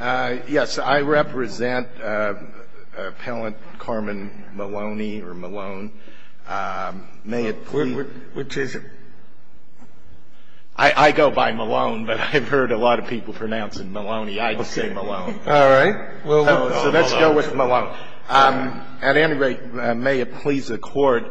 Yes, I represent Appellant Carmen Maloney or Malone. May it please... Which is it? I go by Malone, but I've heard a lot of people pronouncing Maloney. I just say Malone. All right. So let's go with Malone. At any rate, may it please the Court,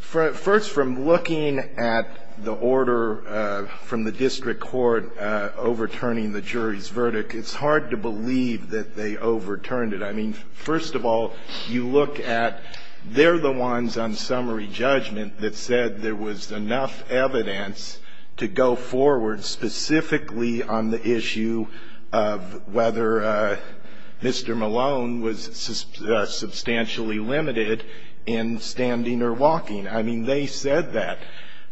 First, from looking at the order from the district court overturning the jury's verdict, it's hard to believe that they overturned it. I mean, first of all, you look at they're the ones on summary judgment that said there was enough evidence to go forward, specifically on the issue of whether Mr. Malone was substantially limited in standing or walking. I mean, they said that.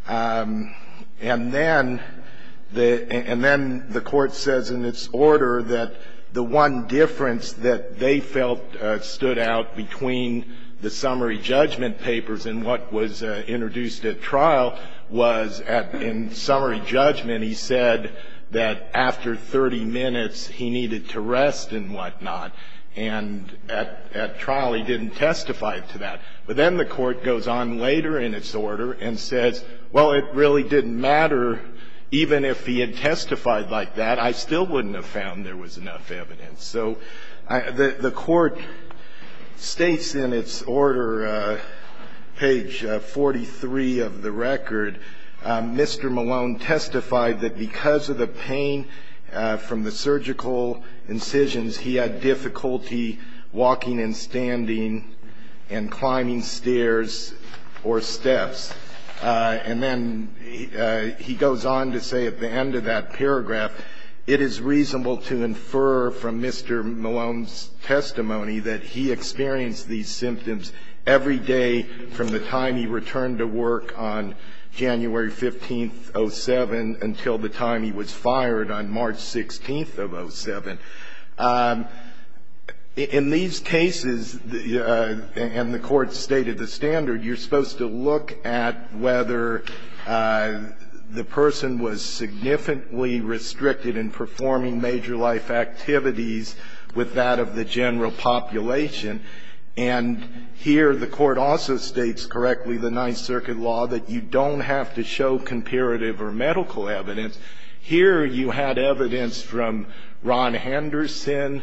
And then the Court says in its order that the one difference that they felt stood out between the summary judgment papers and what was introduced at trial was in summary judgment he said that after 30 minutes he needed to rest and whatnot. And at trial he didn't testify to that. But then the Court goes on later in its order and says, well, it really didn't matter even if he had testified like that. I still wouldn't have found there was enough evidence. So the Court states in its order, page 43 of the record, Mr. Malone testified that because of the pain from the surgical incisions, he had difficulty walking and standing and climbing stairs or steps. And then he goes on to say at the end of that paragraph, it is reasonable to infer from Mr. Malone's testimony that he experienced these symptoms every day from the time he returned to work on January 15th, 07, until the time he was fired on March 16th of 07. In these cases, and the Court's stated the standard, you're supposed to look at whether the person was significantly restricted in performing major life activities with that of the general population. And here the Court also states correctly the Ninth Circuit law that you don't have to show comparative or medical evidence. Here you had evidence from Ron Henderson,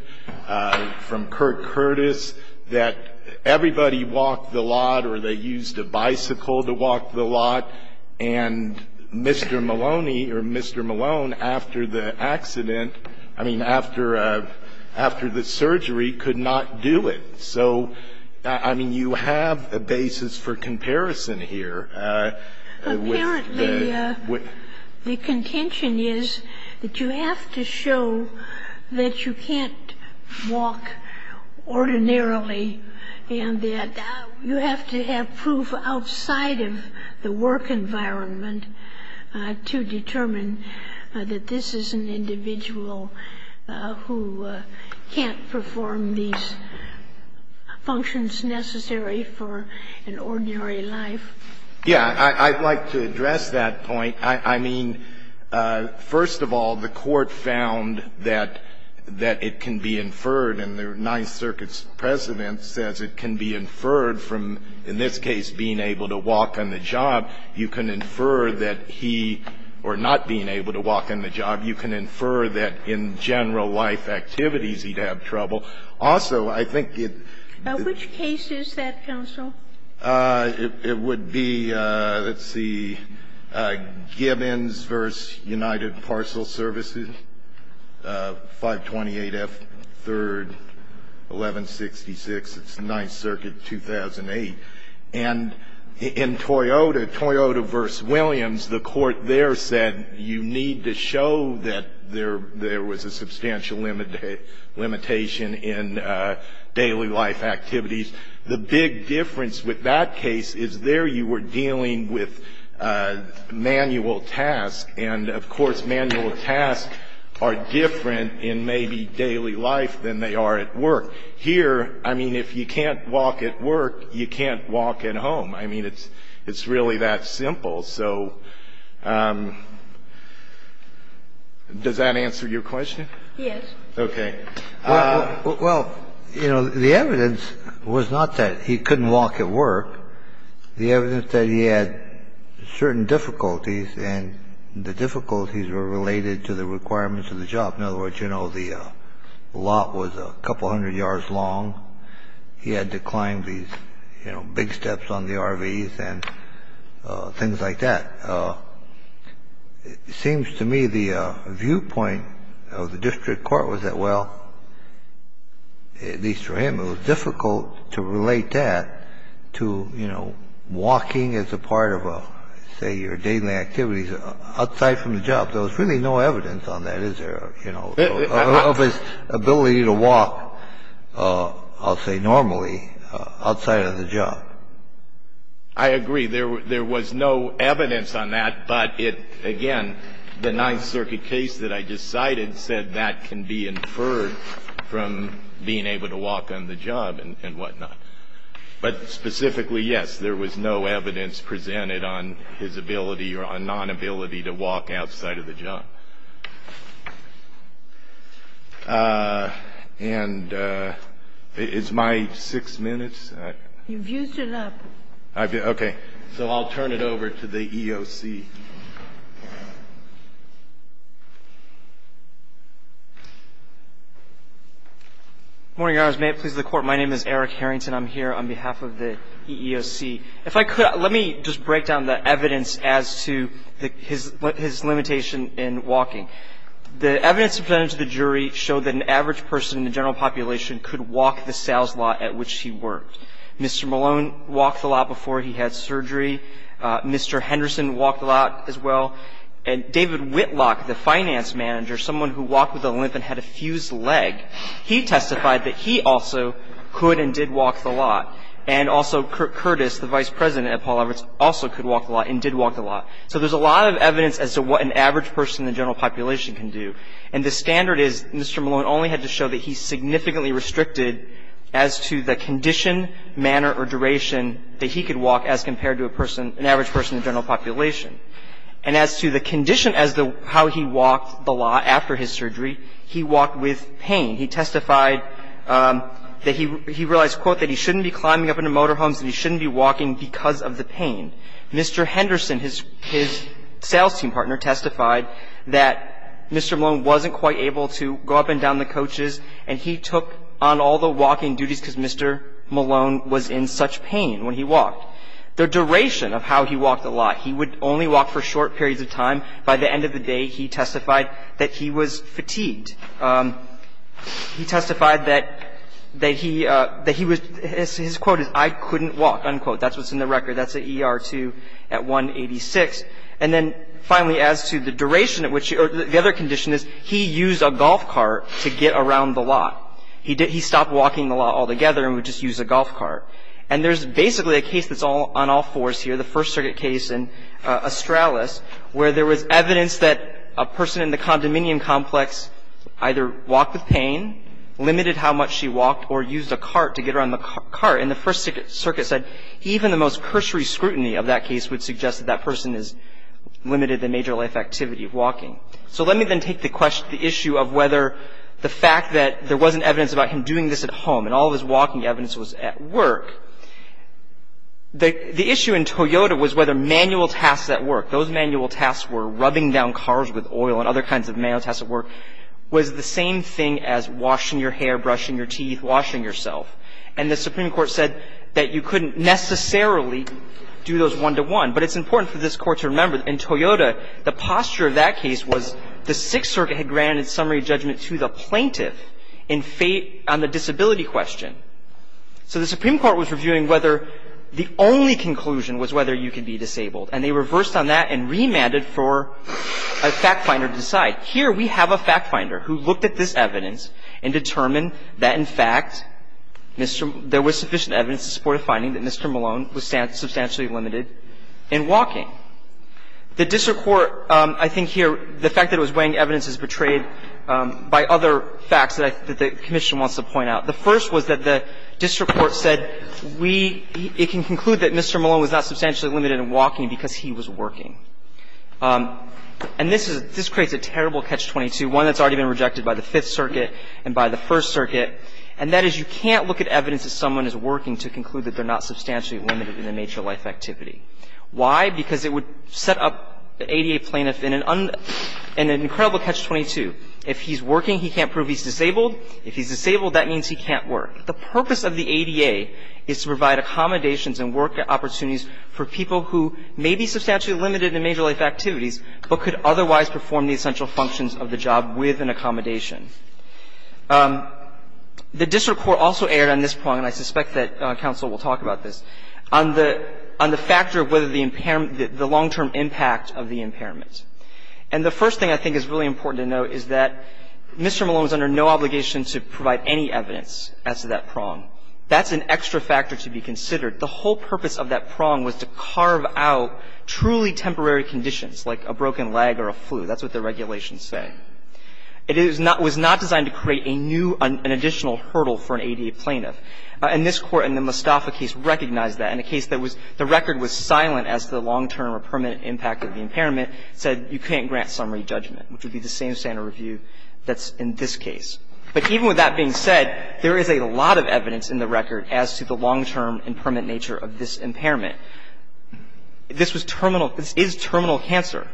from Kirk Curtis, that everybody walked the lot or they used a bicycle to walk the lot, and Mr. Maloney or Mr. Malone, after the accident, I mean, after the surgery, could not do it. So, I mean, you have a basis for comparison here. Apparently, the contention is that you have to show that you can't walk ordinarily and that you have to have proof outside of the work environment to determine that this is an individual who can't perform these functions necessary for an ordinary life. Yeah. I'd like to address that point. I mean, first of all, the Court found that it can be inferred, and the Ninth Circuit's precedent says it can be inferred from, in this case, being able to walk on the job. You can infer that he or not being able to walk on the job, you can infer that in general life activities, he'd have trouble. Also, I think it's the case that counsel. It would be, let's see, Gibbons v. United Parcel Services, 528 F. 3rd, 1166. It's Ninth Circuit, 2008. And in Toyota, Toyota v. Williams, the Court there said you need to show that there was a substantial limitation in daily life activities. The big difference with that case is there you were dealing with manual tasks, and, of course, manual tasks are different in maybe daily life than they are at work. Here, I mean, if you can't walk at work, you can't walk at home. I mean, it's really that simple. So does that answer your question? Yes. Well, you know, the evidence was not that he couldn't walk at work. The evidence that he had certain difficulties, and the difficulties were related to the requirements of the job. In other words, you know, the lot was a couple hundred yards long. He had to climb these, you know, big steps on the RVs and things like that. It seems to me the viewpoint of the district court was that, well, at least for him, it was difficult to relate that to, you know, walking as a part of, say, your daily activities outside from the job. There was really no evidence on that, is there, you know, of his ability to walk, I'll say normally, outside of the job. I agree. There was no evidence on that, but it, again, the Ninth Circuit case that I just cited said that can be inferred from being able to walk on the job and whatnot. But specifically, yes, there was no evidence presented on his ability or nonability to walk outside of the job. And is my six minutes? You've used it up. Okay. So I'll turn it over to the EEOC. Good morning, Your Honors. May it please the Court, my name is Eric Harrington. I'm here on behalf of the EEOC. If I could, let me just break down the evidence as to his limitation in walking. The evidence presented to the jury showed that an average person in the general population could walk the sales lot at which he worked. Mr. Malone walked the lot before he had surgery. Mr. Henderson walked the lot as well. And David Whitlock, the finance manager, someone who walked with a limp and had a fused leg, he testified that he also could and did walk the lot. And also Curtis, the vice president at Paul Roberts, also could walk the lot and did walk the lot. So there's a lot of evidence as to what an average person in the general population can do. And the standard is Mr. Malone only had to show that he significantly restricted as to the condition, manner, or duration that he could walk as compared to a person an average person in the general population. And as to the condition as to how he walked the lot after his surgery, he walked with pain. He testified that he realized, quote, that he shouldn't be climbing up into motorhomes and he shouldn't be walking because of the pain. Mr. Henderson, his sales team partner, testified that Mr. Malone wasn't quite able to go up and down the coaches and he took on all the walking duties because Mr. Malone was in such pain when he walked. The duration of how he walked the lot, he would only walk for short periods of time. By the end of the day, he testified that he was fatigued. He testified that he was, his quote is, I couldn't walk, unquote. That's what's in the record. That's an ER-2 at 186. And then finally, as to the duration, the other condition is he used a golf cart to get around the lot. He stopped walking the lot altogether and would just use a golf cart. And there's basically a case that's on all fours here, the First Circuit case in Australis, where there was evidence that a person in the condominium complex either walked with pain, limited how much she walked, or used a cart to get around the cart. And the First Circuit said even the most cursory scrutiny of that case would suggest that that person has limited the major life activity of walking. So let me then take the issue of whether the fact that there wasn't evidence about him doing this at home and all of his walking evidence was at work. The issue in Toyota was whether manual tasks at work, those manual tasks were rubbing down cars with oil and other kinds of manual tasks at work, was the same thing as washing your hair, brushing your teeth, washing yourself. And the Supreme Court said that you couldn't necessarily do those one-to-one. But it's important for this Court to remember, in Toyota, the posture of that case was the Sixth Circuit had granted summary judgment to the plaintiff in fate on the disability question. So the Supreme Court was reviewing whether the only conclusion was whether you could be disabled. And they reversed on that and remanded for a fact finder to decide. Here we have a fact finder who looked at this evidence and determined that, in fact, there was sufficient evidence to support a finding that Mr. Malone was substantially limited in walking. The district court, I think here, the fact that it was weighing evidence is portrayed by other facts that the commission wants to point out. The first was that the district court said we – it can conclude that Mr. Malone was not substantially limited in walking because he was working. And this is – this creates a terrible Catch-22, one that's already been rejected by the Fifth Circuit and by the First Circuit. And that is you can't look at evidence that someone is working to conclude that they're not substantially limited in the nature of life activity. Why? Because it would set up the ADA plaintiff in an incredible Catch-22. If he's working, he can't prove he's disabled. If he's disabled, that means he can't work. The purpose of the ADA is to provide accommodations and work opportunities for people who may be substantially limited in major life activities but could otherwise perform the essential functions of the job with an accommodation. The district court also erred on this prong, and I suspect that counsel will talk about this, on the – on the factor of whether the impairment – the long-term impact of the impairment. And the first thing I think is really important to note is that Mr. Malone is under no obligation to provide any evidence as to that prong. That's an extra factor to be considered. The whole purpose of that prong was to carve out truly temporary conditions, like a broken leg or a flu. That's what the regulations say. It is not – was not designed to create a new – an additional hurdle for an ADA plaintiff. And this Court in the Mostafa case recognized that. In a case that was – the record was silent as to the long-term or permanent impact of the impairment. It said you can't grant summary judgment, which would be the same standard review that's in this case. But even with that being said, there is a lot of evidence in the record as to the long-term and permanent nature of this impairment. This was terminal – this is terminal cancer.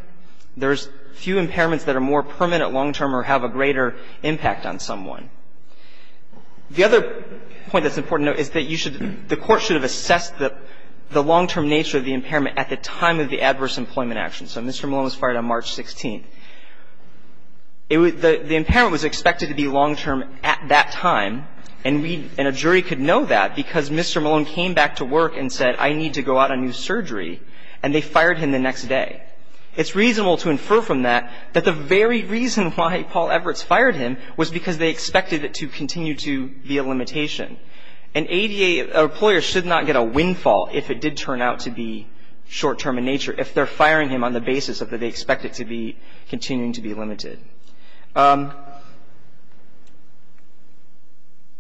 There's few impairments that are more permanent, long-term, or have a greater impact on someone. The other point that's important to note is that you should – the Court should have assessed the long-term nature of the impairment at the time of the adverse employment action. So Mr. Malone was fired on March 16th. It was – the impairment was expected to be long-term at that time, and we – and Mr. Malone came back to work and said, I need to go out on new surgery, and they fired him the next day. It's reasonable to infer from that that the very reason why Paul Everts fired him was because they expected it to continue to be a limitation. An ADA employer should not get a windfall if it did turn out to be short-term in nature, if they're firing him on the basis that they expect it to be continuing to be limited.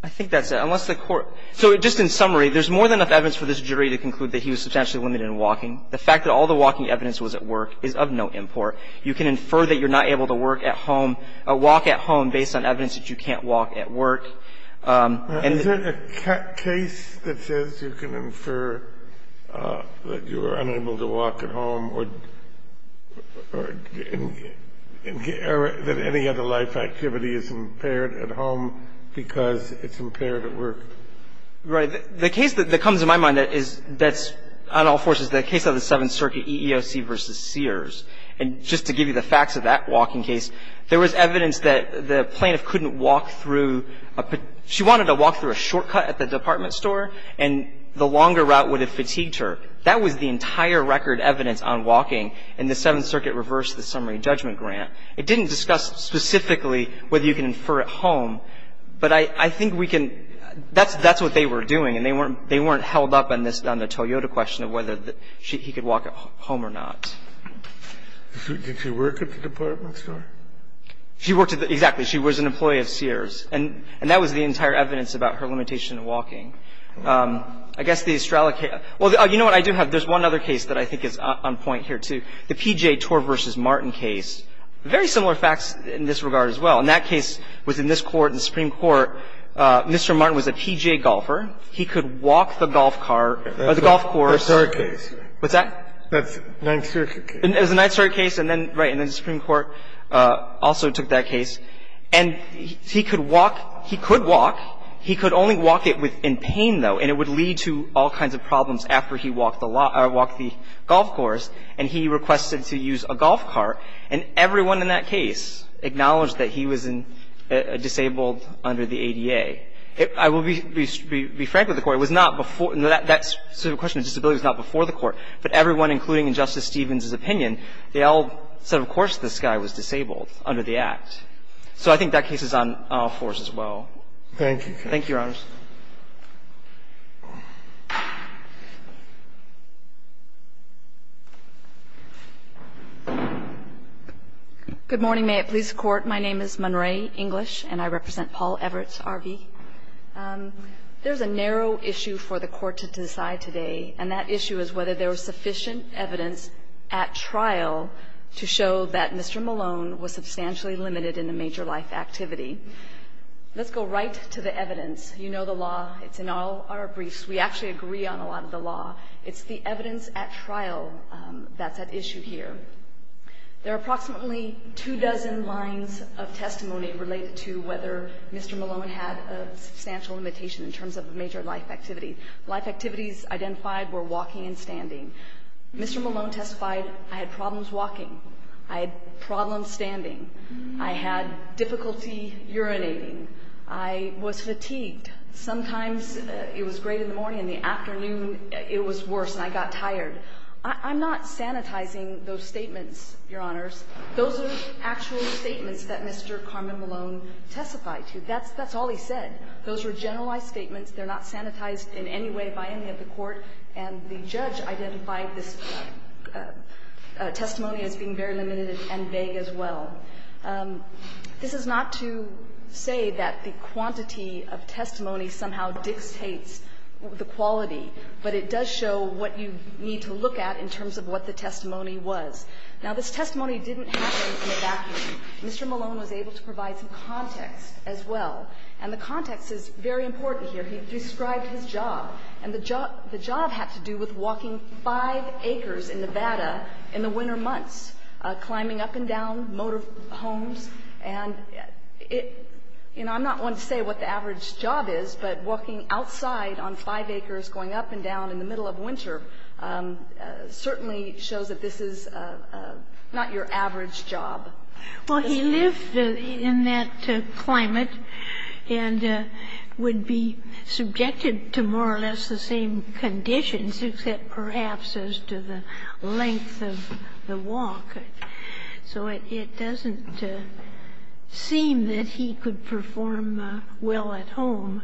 I think that's it. Unless the Court – so just in summary, there's more than enough evidence for this jury to conclude that he was substantially limited in walking. The fact that all the walking evidence was at work is of no import. You can infer that you're not able to work at home – walk at home based on evidence that you can't walk at work. And the – The case that comes to my mind that is – that's on all forces, the case of the Seventh Circuit EEOC v. Sears, and just to give you the facts of that walking case, there was evidence that the plaintiff couldn't walk through – she wanted to walk through a shortcut at the department store, and the longer route would have fatigued her. That was the entire record evidence on walking, and the Seventh Circuit reversed the summary judgment grant. It didn't discuss specifically whether you can infer at home, but I – I think we can – that's – that's what they were doing, and they weren't – they weren't held up on this – on the Toyota question of whether he could walk at home or not. Did she work at the department store? She worked at the – exactly. She was an employee of Sears. And that was the entire evidence about her limitation of walking. I guess the Estrella case – well, you know what? I do have – there's one other case that I think is on point here, too. The P.J. Torr v. Martin case. Very similar facts in this regard as well. In that case, within this Court and the Supreme Court, Mr. Martin was a P.J. golfer. He could walk the golf car – or the golf course. That's our case. What's that? That's the Ninth Circuit case. It was the Ninth Circuit case, and then – right. And then the Supreme Court also took that case. And he could walk. He could walk. He could only walk it with – in pain, though, and it would lead to all kinds of problems after he walked the golf course. And he requested to use a golf cart, and everyone in that case acknowledged that he was disabled under the ADA. I will be frank with the Court. It was not before – that specific question of disability was not before the Court, but everyone, including in Justice Stevens's opinion, they all said, of course, this guy was disabled under the Act. So I think that case is on all fours as well. Thank you. Thank you, Your Honors. Good morning. May it please the Court. My name is Munray English, and I represent Paul Everett, R.V. There's a narrow issue for the Court to decide today, and that issue is whether there was sufficient evidence at trial to show that Mr. Malone was substantially limited in a major life activity. You know that Mr. Malone was not a major life activity. You know the law. It's in all our briefs. We actually agree on a lot of the law. It's the evidence at trial that's at issue here. There are approximately two dozen lines of testimony related to whether Mr. Malone had a substantial limitation in terms of a major life activity. Life activities identified were walking and standing. Mr. Malone testified, I had problems walking. I had problems standing. I had difficulty urinating. I was fatigued. Sometimes it was great in the morning. In the afternoon, it was worse, and I got tired. I'm not sanitizing those statements, Your Honors. Those are actual statements that Mr. Carmen Malone testified to. That's all he said. Those were generalized statements. They're not sanitized in any way by any of the Court, and the judge identified this testimony as being very limited and vague as well. This is not to say that the quantity of testimony somehow dictates the quality, but it does show what you need to look at in terms of what the testimony was. Now, this testimony didn't happen in a vacuum. Mr. Malone was able to provide some context as well, and the context is very important here. He described his job, and the job had to do with walking five acres in Nevada in the winter months, climbing up and down motor homes. And, you know, I'm not one to say what the average job is, but walking outside on five acres going up and down in the middle of winter certainly shows that this is not your average job. Well, he lived in that climate and would be subjected to more or less the same conditions, except perhaps as to the length of the walk. So it doesn't seem that he could perform well at home.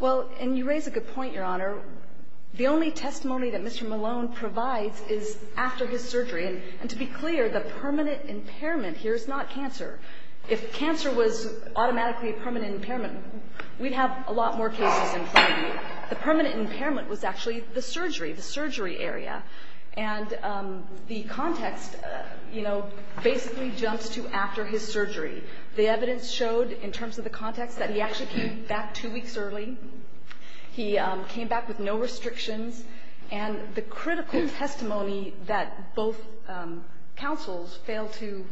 Well, and you raise a good point, Your Honor. The only testimony that Mr. Malone provides is after his surgery. And to be clear, the permanent impairment here is not cancer. If cancer was automatically a permanent impairment, we'd have a lot more cases in front of you. The permanent impairment was actually the surgery, the surgery area. And the context, you know, basically jumps to after his surgery. The evidence showed in terms of the context that he actually came back two weeks early. He came back with no restrictions. And the critical testimony that both counsels failed to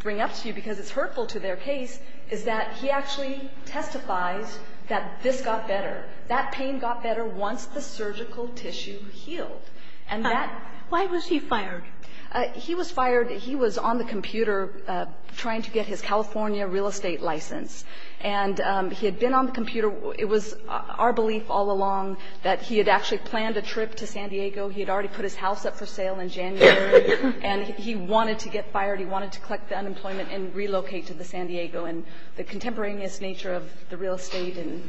bring up to you because it's hurtful to their case is that he actually testifies that this got better. That pain got better once the surgical tissue healed. And that ---- Why was he fired? He was fired. He was on the computer trying to get his California real estate license. And he had been on the computer. It was our belief all along that he had actually planned a trip to San Diego. He had already put his house up for sale in January. And he wanted to get fired. He wanted to collect the unemployment and relocate to the San Diego. And the contemporaneous nature of the real estate and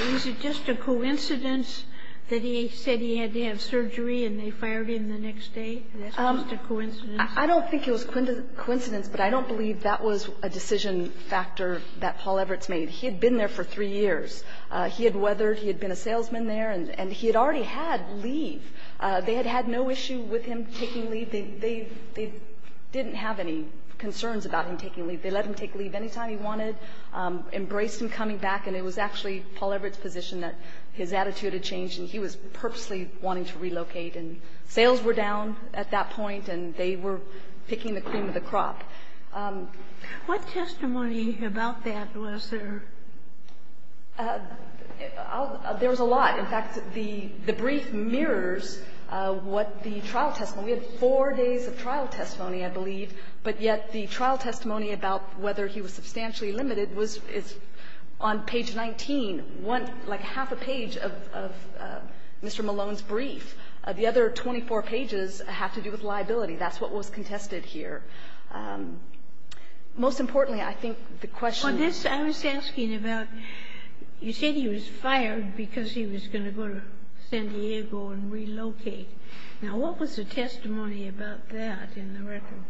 ---- Was it just a coincidence that he said he had to have surgery and they fired him the next day? That's just a coincidence? I don't think it was coincidence, but I don't believe that was a decision factor that Paul Everts made. He had been there for three years. He had weathered. He had been a salesman there. And he had already had leave. They had had no issue with him taking leave. They didn't have any concerns about him taking leave. They let him take leave any time he wanted, embraced him coming back. And it was actually Paul Everts' position that his attitude had changed, and he was purposely wanting to relocate. And sales were down at that point, and they were picking the cream of the crop. What testimony about that was there? There was a lot. In fact, the brief mirrors what the trial testimony ---- We had four days of trial testimony, I believe. But yet the trial testimony about whether he was substantially limited was on page 19, like half a page of Mr. Malone's brief. The other 24 pages have to do with liability. That's what was contested here. Most importantly, I think the question ---- I was asking about you said he was fired because he was going to go to San Diego and relocate. Now, what was the testimony about that in the record?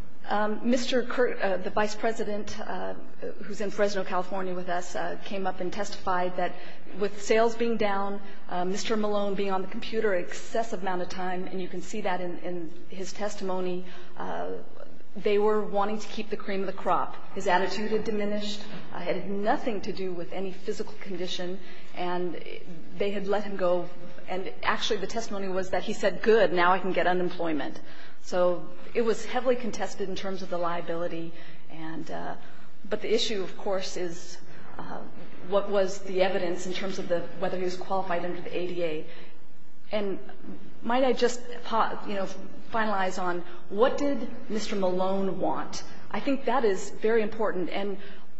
Mr. Kurt, the Vice President who's in Fresno, California with us, came up and testified that with sales being down, Mr. Malone being on the computer an excessive amount of time, and you can see that in his testimony, they were wanting to keep the cream of the crop. His attitude had diminished. It had nothing to do with any physical condition. And they had let him go. And actually the testimony was that he said, good, now I can get unemployment. So it was heavily contested in terms of the liability. But the issue, of course, is what was the evidence in terms of whether he was qualified under the ADA. And might I just, you know, finalize on what did Mr. Malone want? I think that is very important. And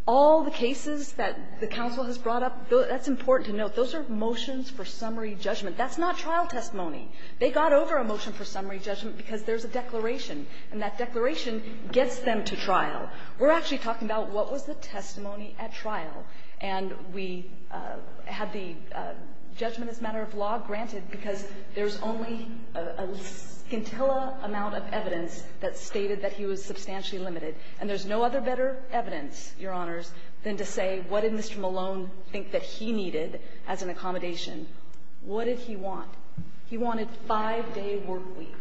all the cases that the counsel has brought up, that's important to note. Those are motions for summary judgment. That's not trial testimony. They got over a motion for summary judgment because there's a declaration. And that declaration gets them to trial. We're actually talking about what was the testimony at trial. And we had the judgment as a matter of law granted because there's only a scintilla amount of evidence that stated that he was substantially limited. And there's no other better evidence, Your Honors, than to say what did Mr. Malone think that he needed as an accommodation? What did he want? He wanted five-day work week.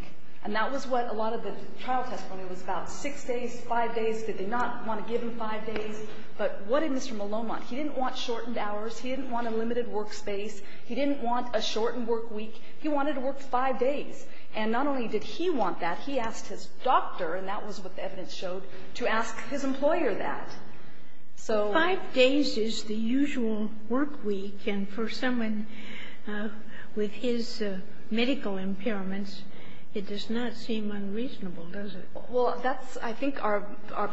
And that was what a lot of the trial testimony was about, six days, five days. Did they not want to give him five days? But what did Mr. Malone want? He didn't want shortened hours. He didn't want a limited work space. He didn't want a shortened work week. He wanted to work five days. And not only did he want that, he asked his doctor, and that was what the evidence showed, to ask his employer that. So five days is the usual work week, and for someone with his medical impairments, it does not seem unreasonable, does it? Well, that's, I think, our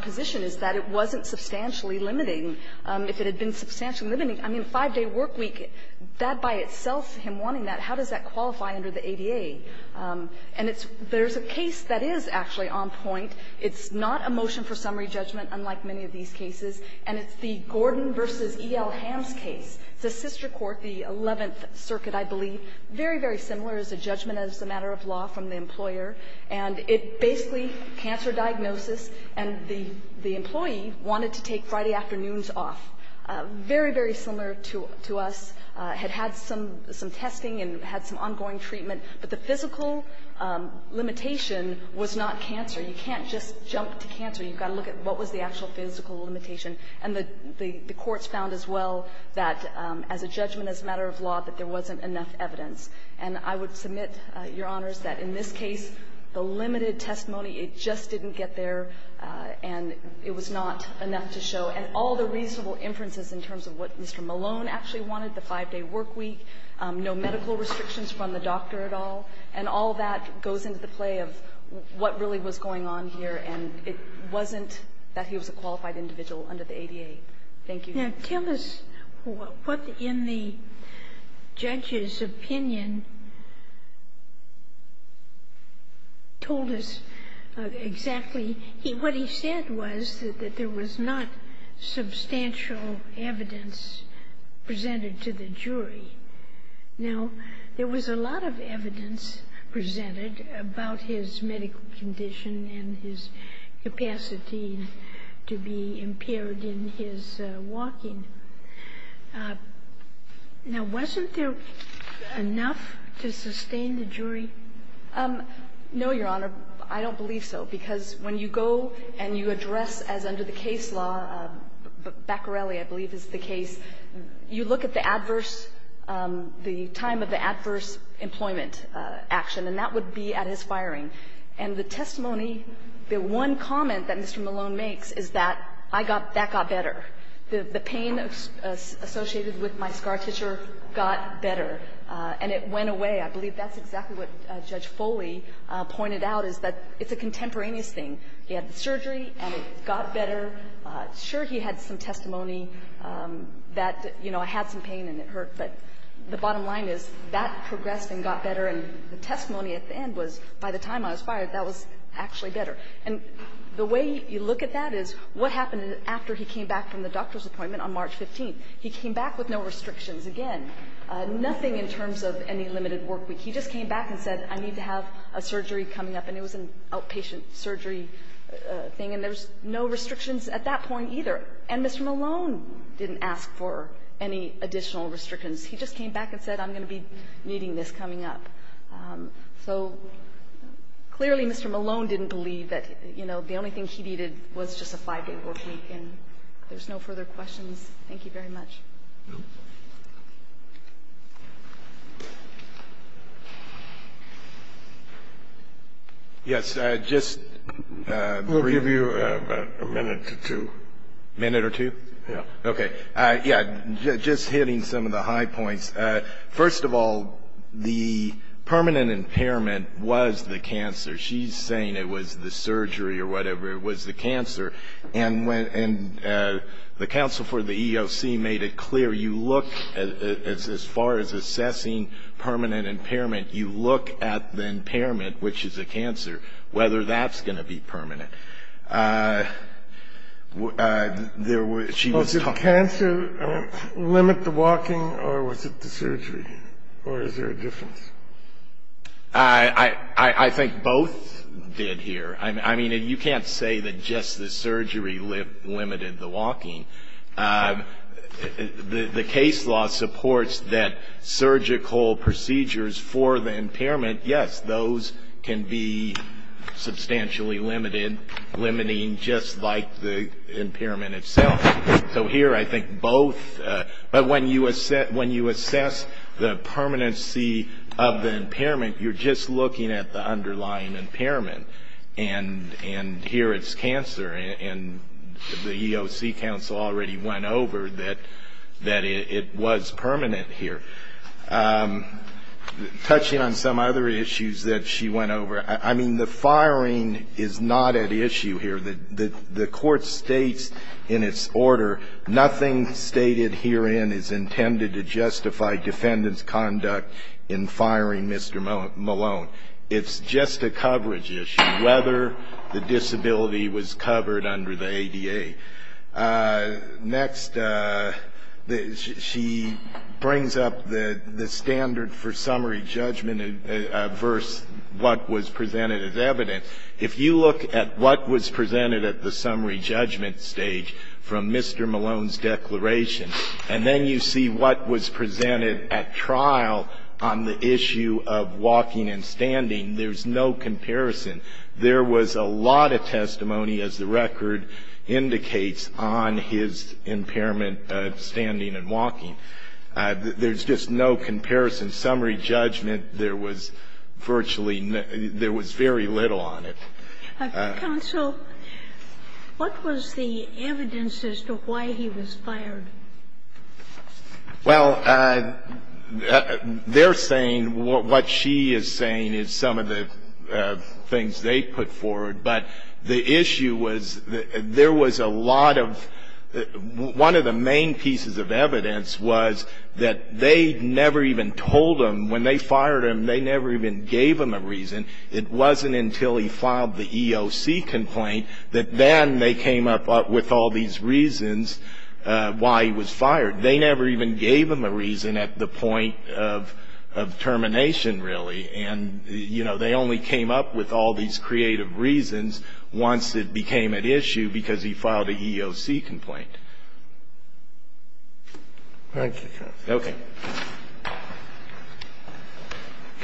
position is that it wasn't substantially limiting. If it had been substantially limiting, I mean, five-day work week, that by itself, him wanting that, how does that qualify under the ADA? And it's – there's a case that is actually on point. It's not a motion for summary judgment, unlike many of these cases. And it's the Gordon v. E.L. Ham's case. It's a sister court, the 11th Circuit, I believe. Very, very similar. It's a judgment as a matter of law from the employer. And it basically, cancer diagnosis, and the employee wanted to take Friday afternoons off. Very, very similar to us. Had had some testing and had some ongoing treatment. But the physical limitation was not cancer. You can't just jump to cancer. You've got to look at what was the actual physical limitation. And the courts found as well that as a judgment as a matter of law, that there wasn't enough evidence. And I would submit, Your Honors, that in this case, the limited testimony, it just didn't get there, and it was not enough to show. And all the reasonable inferences in terms of what Mr. Malone actually wanted, the five-day work week, no medical restrictions from the doctor at all, and all that goes into the play of what really was going on here. And it wasn't that he was a qualified individual under the ADA. Thank you. Now, tell us what in the judge's opinion told us exactly. What he said was that there was not substantial evidence presented to the jury. Now, there was a lot of evidence presented about his medical condition and his capacity to be impaired in his walking. Now, wasn't there enough to sustain the jury? No, Your Honor. I don't believe so, because when you go and you address as under the case law, Baccarelli, I believe is the case, you look at the adverse, the time of the adverse employment action, and that would be at his firing. And the testimony, the one comment that Mr. Malone makes is that I got, that got better. The pain associated with my scar tissue got better. And it went away. I believe that's exactly what Judge Foley pointed out, is that it's a contemporaneous thing. He had the surgery, and it got better. Sure, he had some testimony that, you know, I had some pain and it hurt, but the bottom line is that progressed and got better. And the testimony at the end was, by the time I was fired, that was actually better. And the way you look at that is, what happened after he came back from the doctor's appointment on March 15th? He came back with no restrictions again, nothing in terms of any limited work week. He just came back and said, I need to have a surgery coming up. And it was an outpatient surgery thing, and there's no restrictions at that point either. And Mr. Malone didn't ask for any additional restrictions. He just came back and said, I'm going to be needing this coming up. So clearly Mr. Malone didn't believe that, you know, the only thing he needed was just a five-day work week, and there's no further questions. Thank you very much. Yes, just briefly. We'll give you about a minute or two. A minute or two? Yes. Okay. Yes, just hitting some of the high points. First of all, the permanent impairment was the cancer. She's saying it was the surgery or whatever, it was the cancer. And the counsel for the EEOC made it clear you look, as far as assessing permanent impairment, you look at the impairment, which is a cancer, whether that's going to be permanent. Was it cancer, limit the walking, or was it the surgery? Or is there a difference? I think both did here. I mean, you can't say that just the surgery limited the walking. The case law supports that surgical procedures for the impairment, yes, those can be substantially limited, limiting just like the impairment itself. So here I think both. But when you assess the permanency of the impairment, you're just looking at the underlying impairment, and here it's cancer, and the EEOC counsel already went over that it was permanent here. Touching on some other issues that she went over, I mean, the firing is not at issue here. The court states in its order, nothing stated herein is intended to justify defendant's conduct in firing Mr. Malone. It's just a coverage issue, whether the disability was covered under the ADA. Next, she brings up the standard for summary judgment versus what was presented as evidence. If you look at what was presented at the summary judgment stage from Mr. Malone's declaration, and then you see what was presented at trial on the issue of walking and standing, there's no comparison. There was a lot of testimony, as the record indicates, on his impairment of standing and walking. There's just no comparison. Summary judgment, there was virtually no – there was very little on it. Sotomayor, what was the evidence as to why he was fired? Well, they're saying what she is saying is some of the things they put forward, but the issue was there was a lot of – one of the main pieces of evidence was that they never even told him, when they fired him, they never even gave him a reason. It wasn't until he filed the EOC complaint that then they came up with all these reasons why he was fired. They never even gave him a reason at the point of termination, really. And, you know, they only came up with all these creative reasons once it became an issue because he filed an EOC complaint. Thank you, counsel. Okay.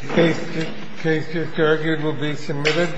The case just argued will be submitted.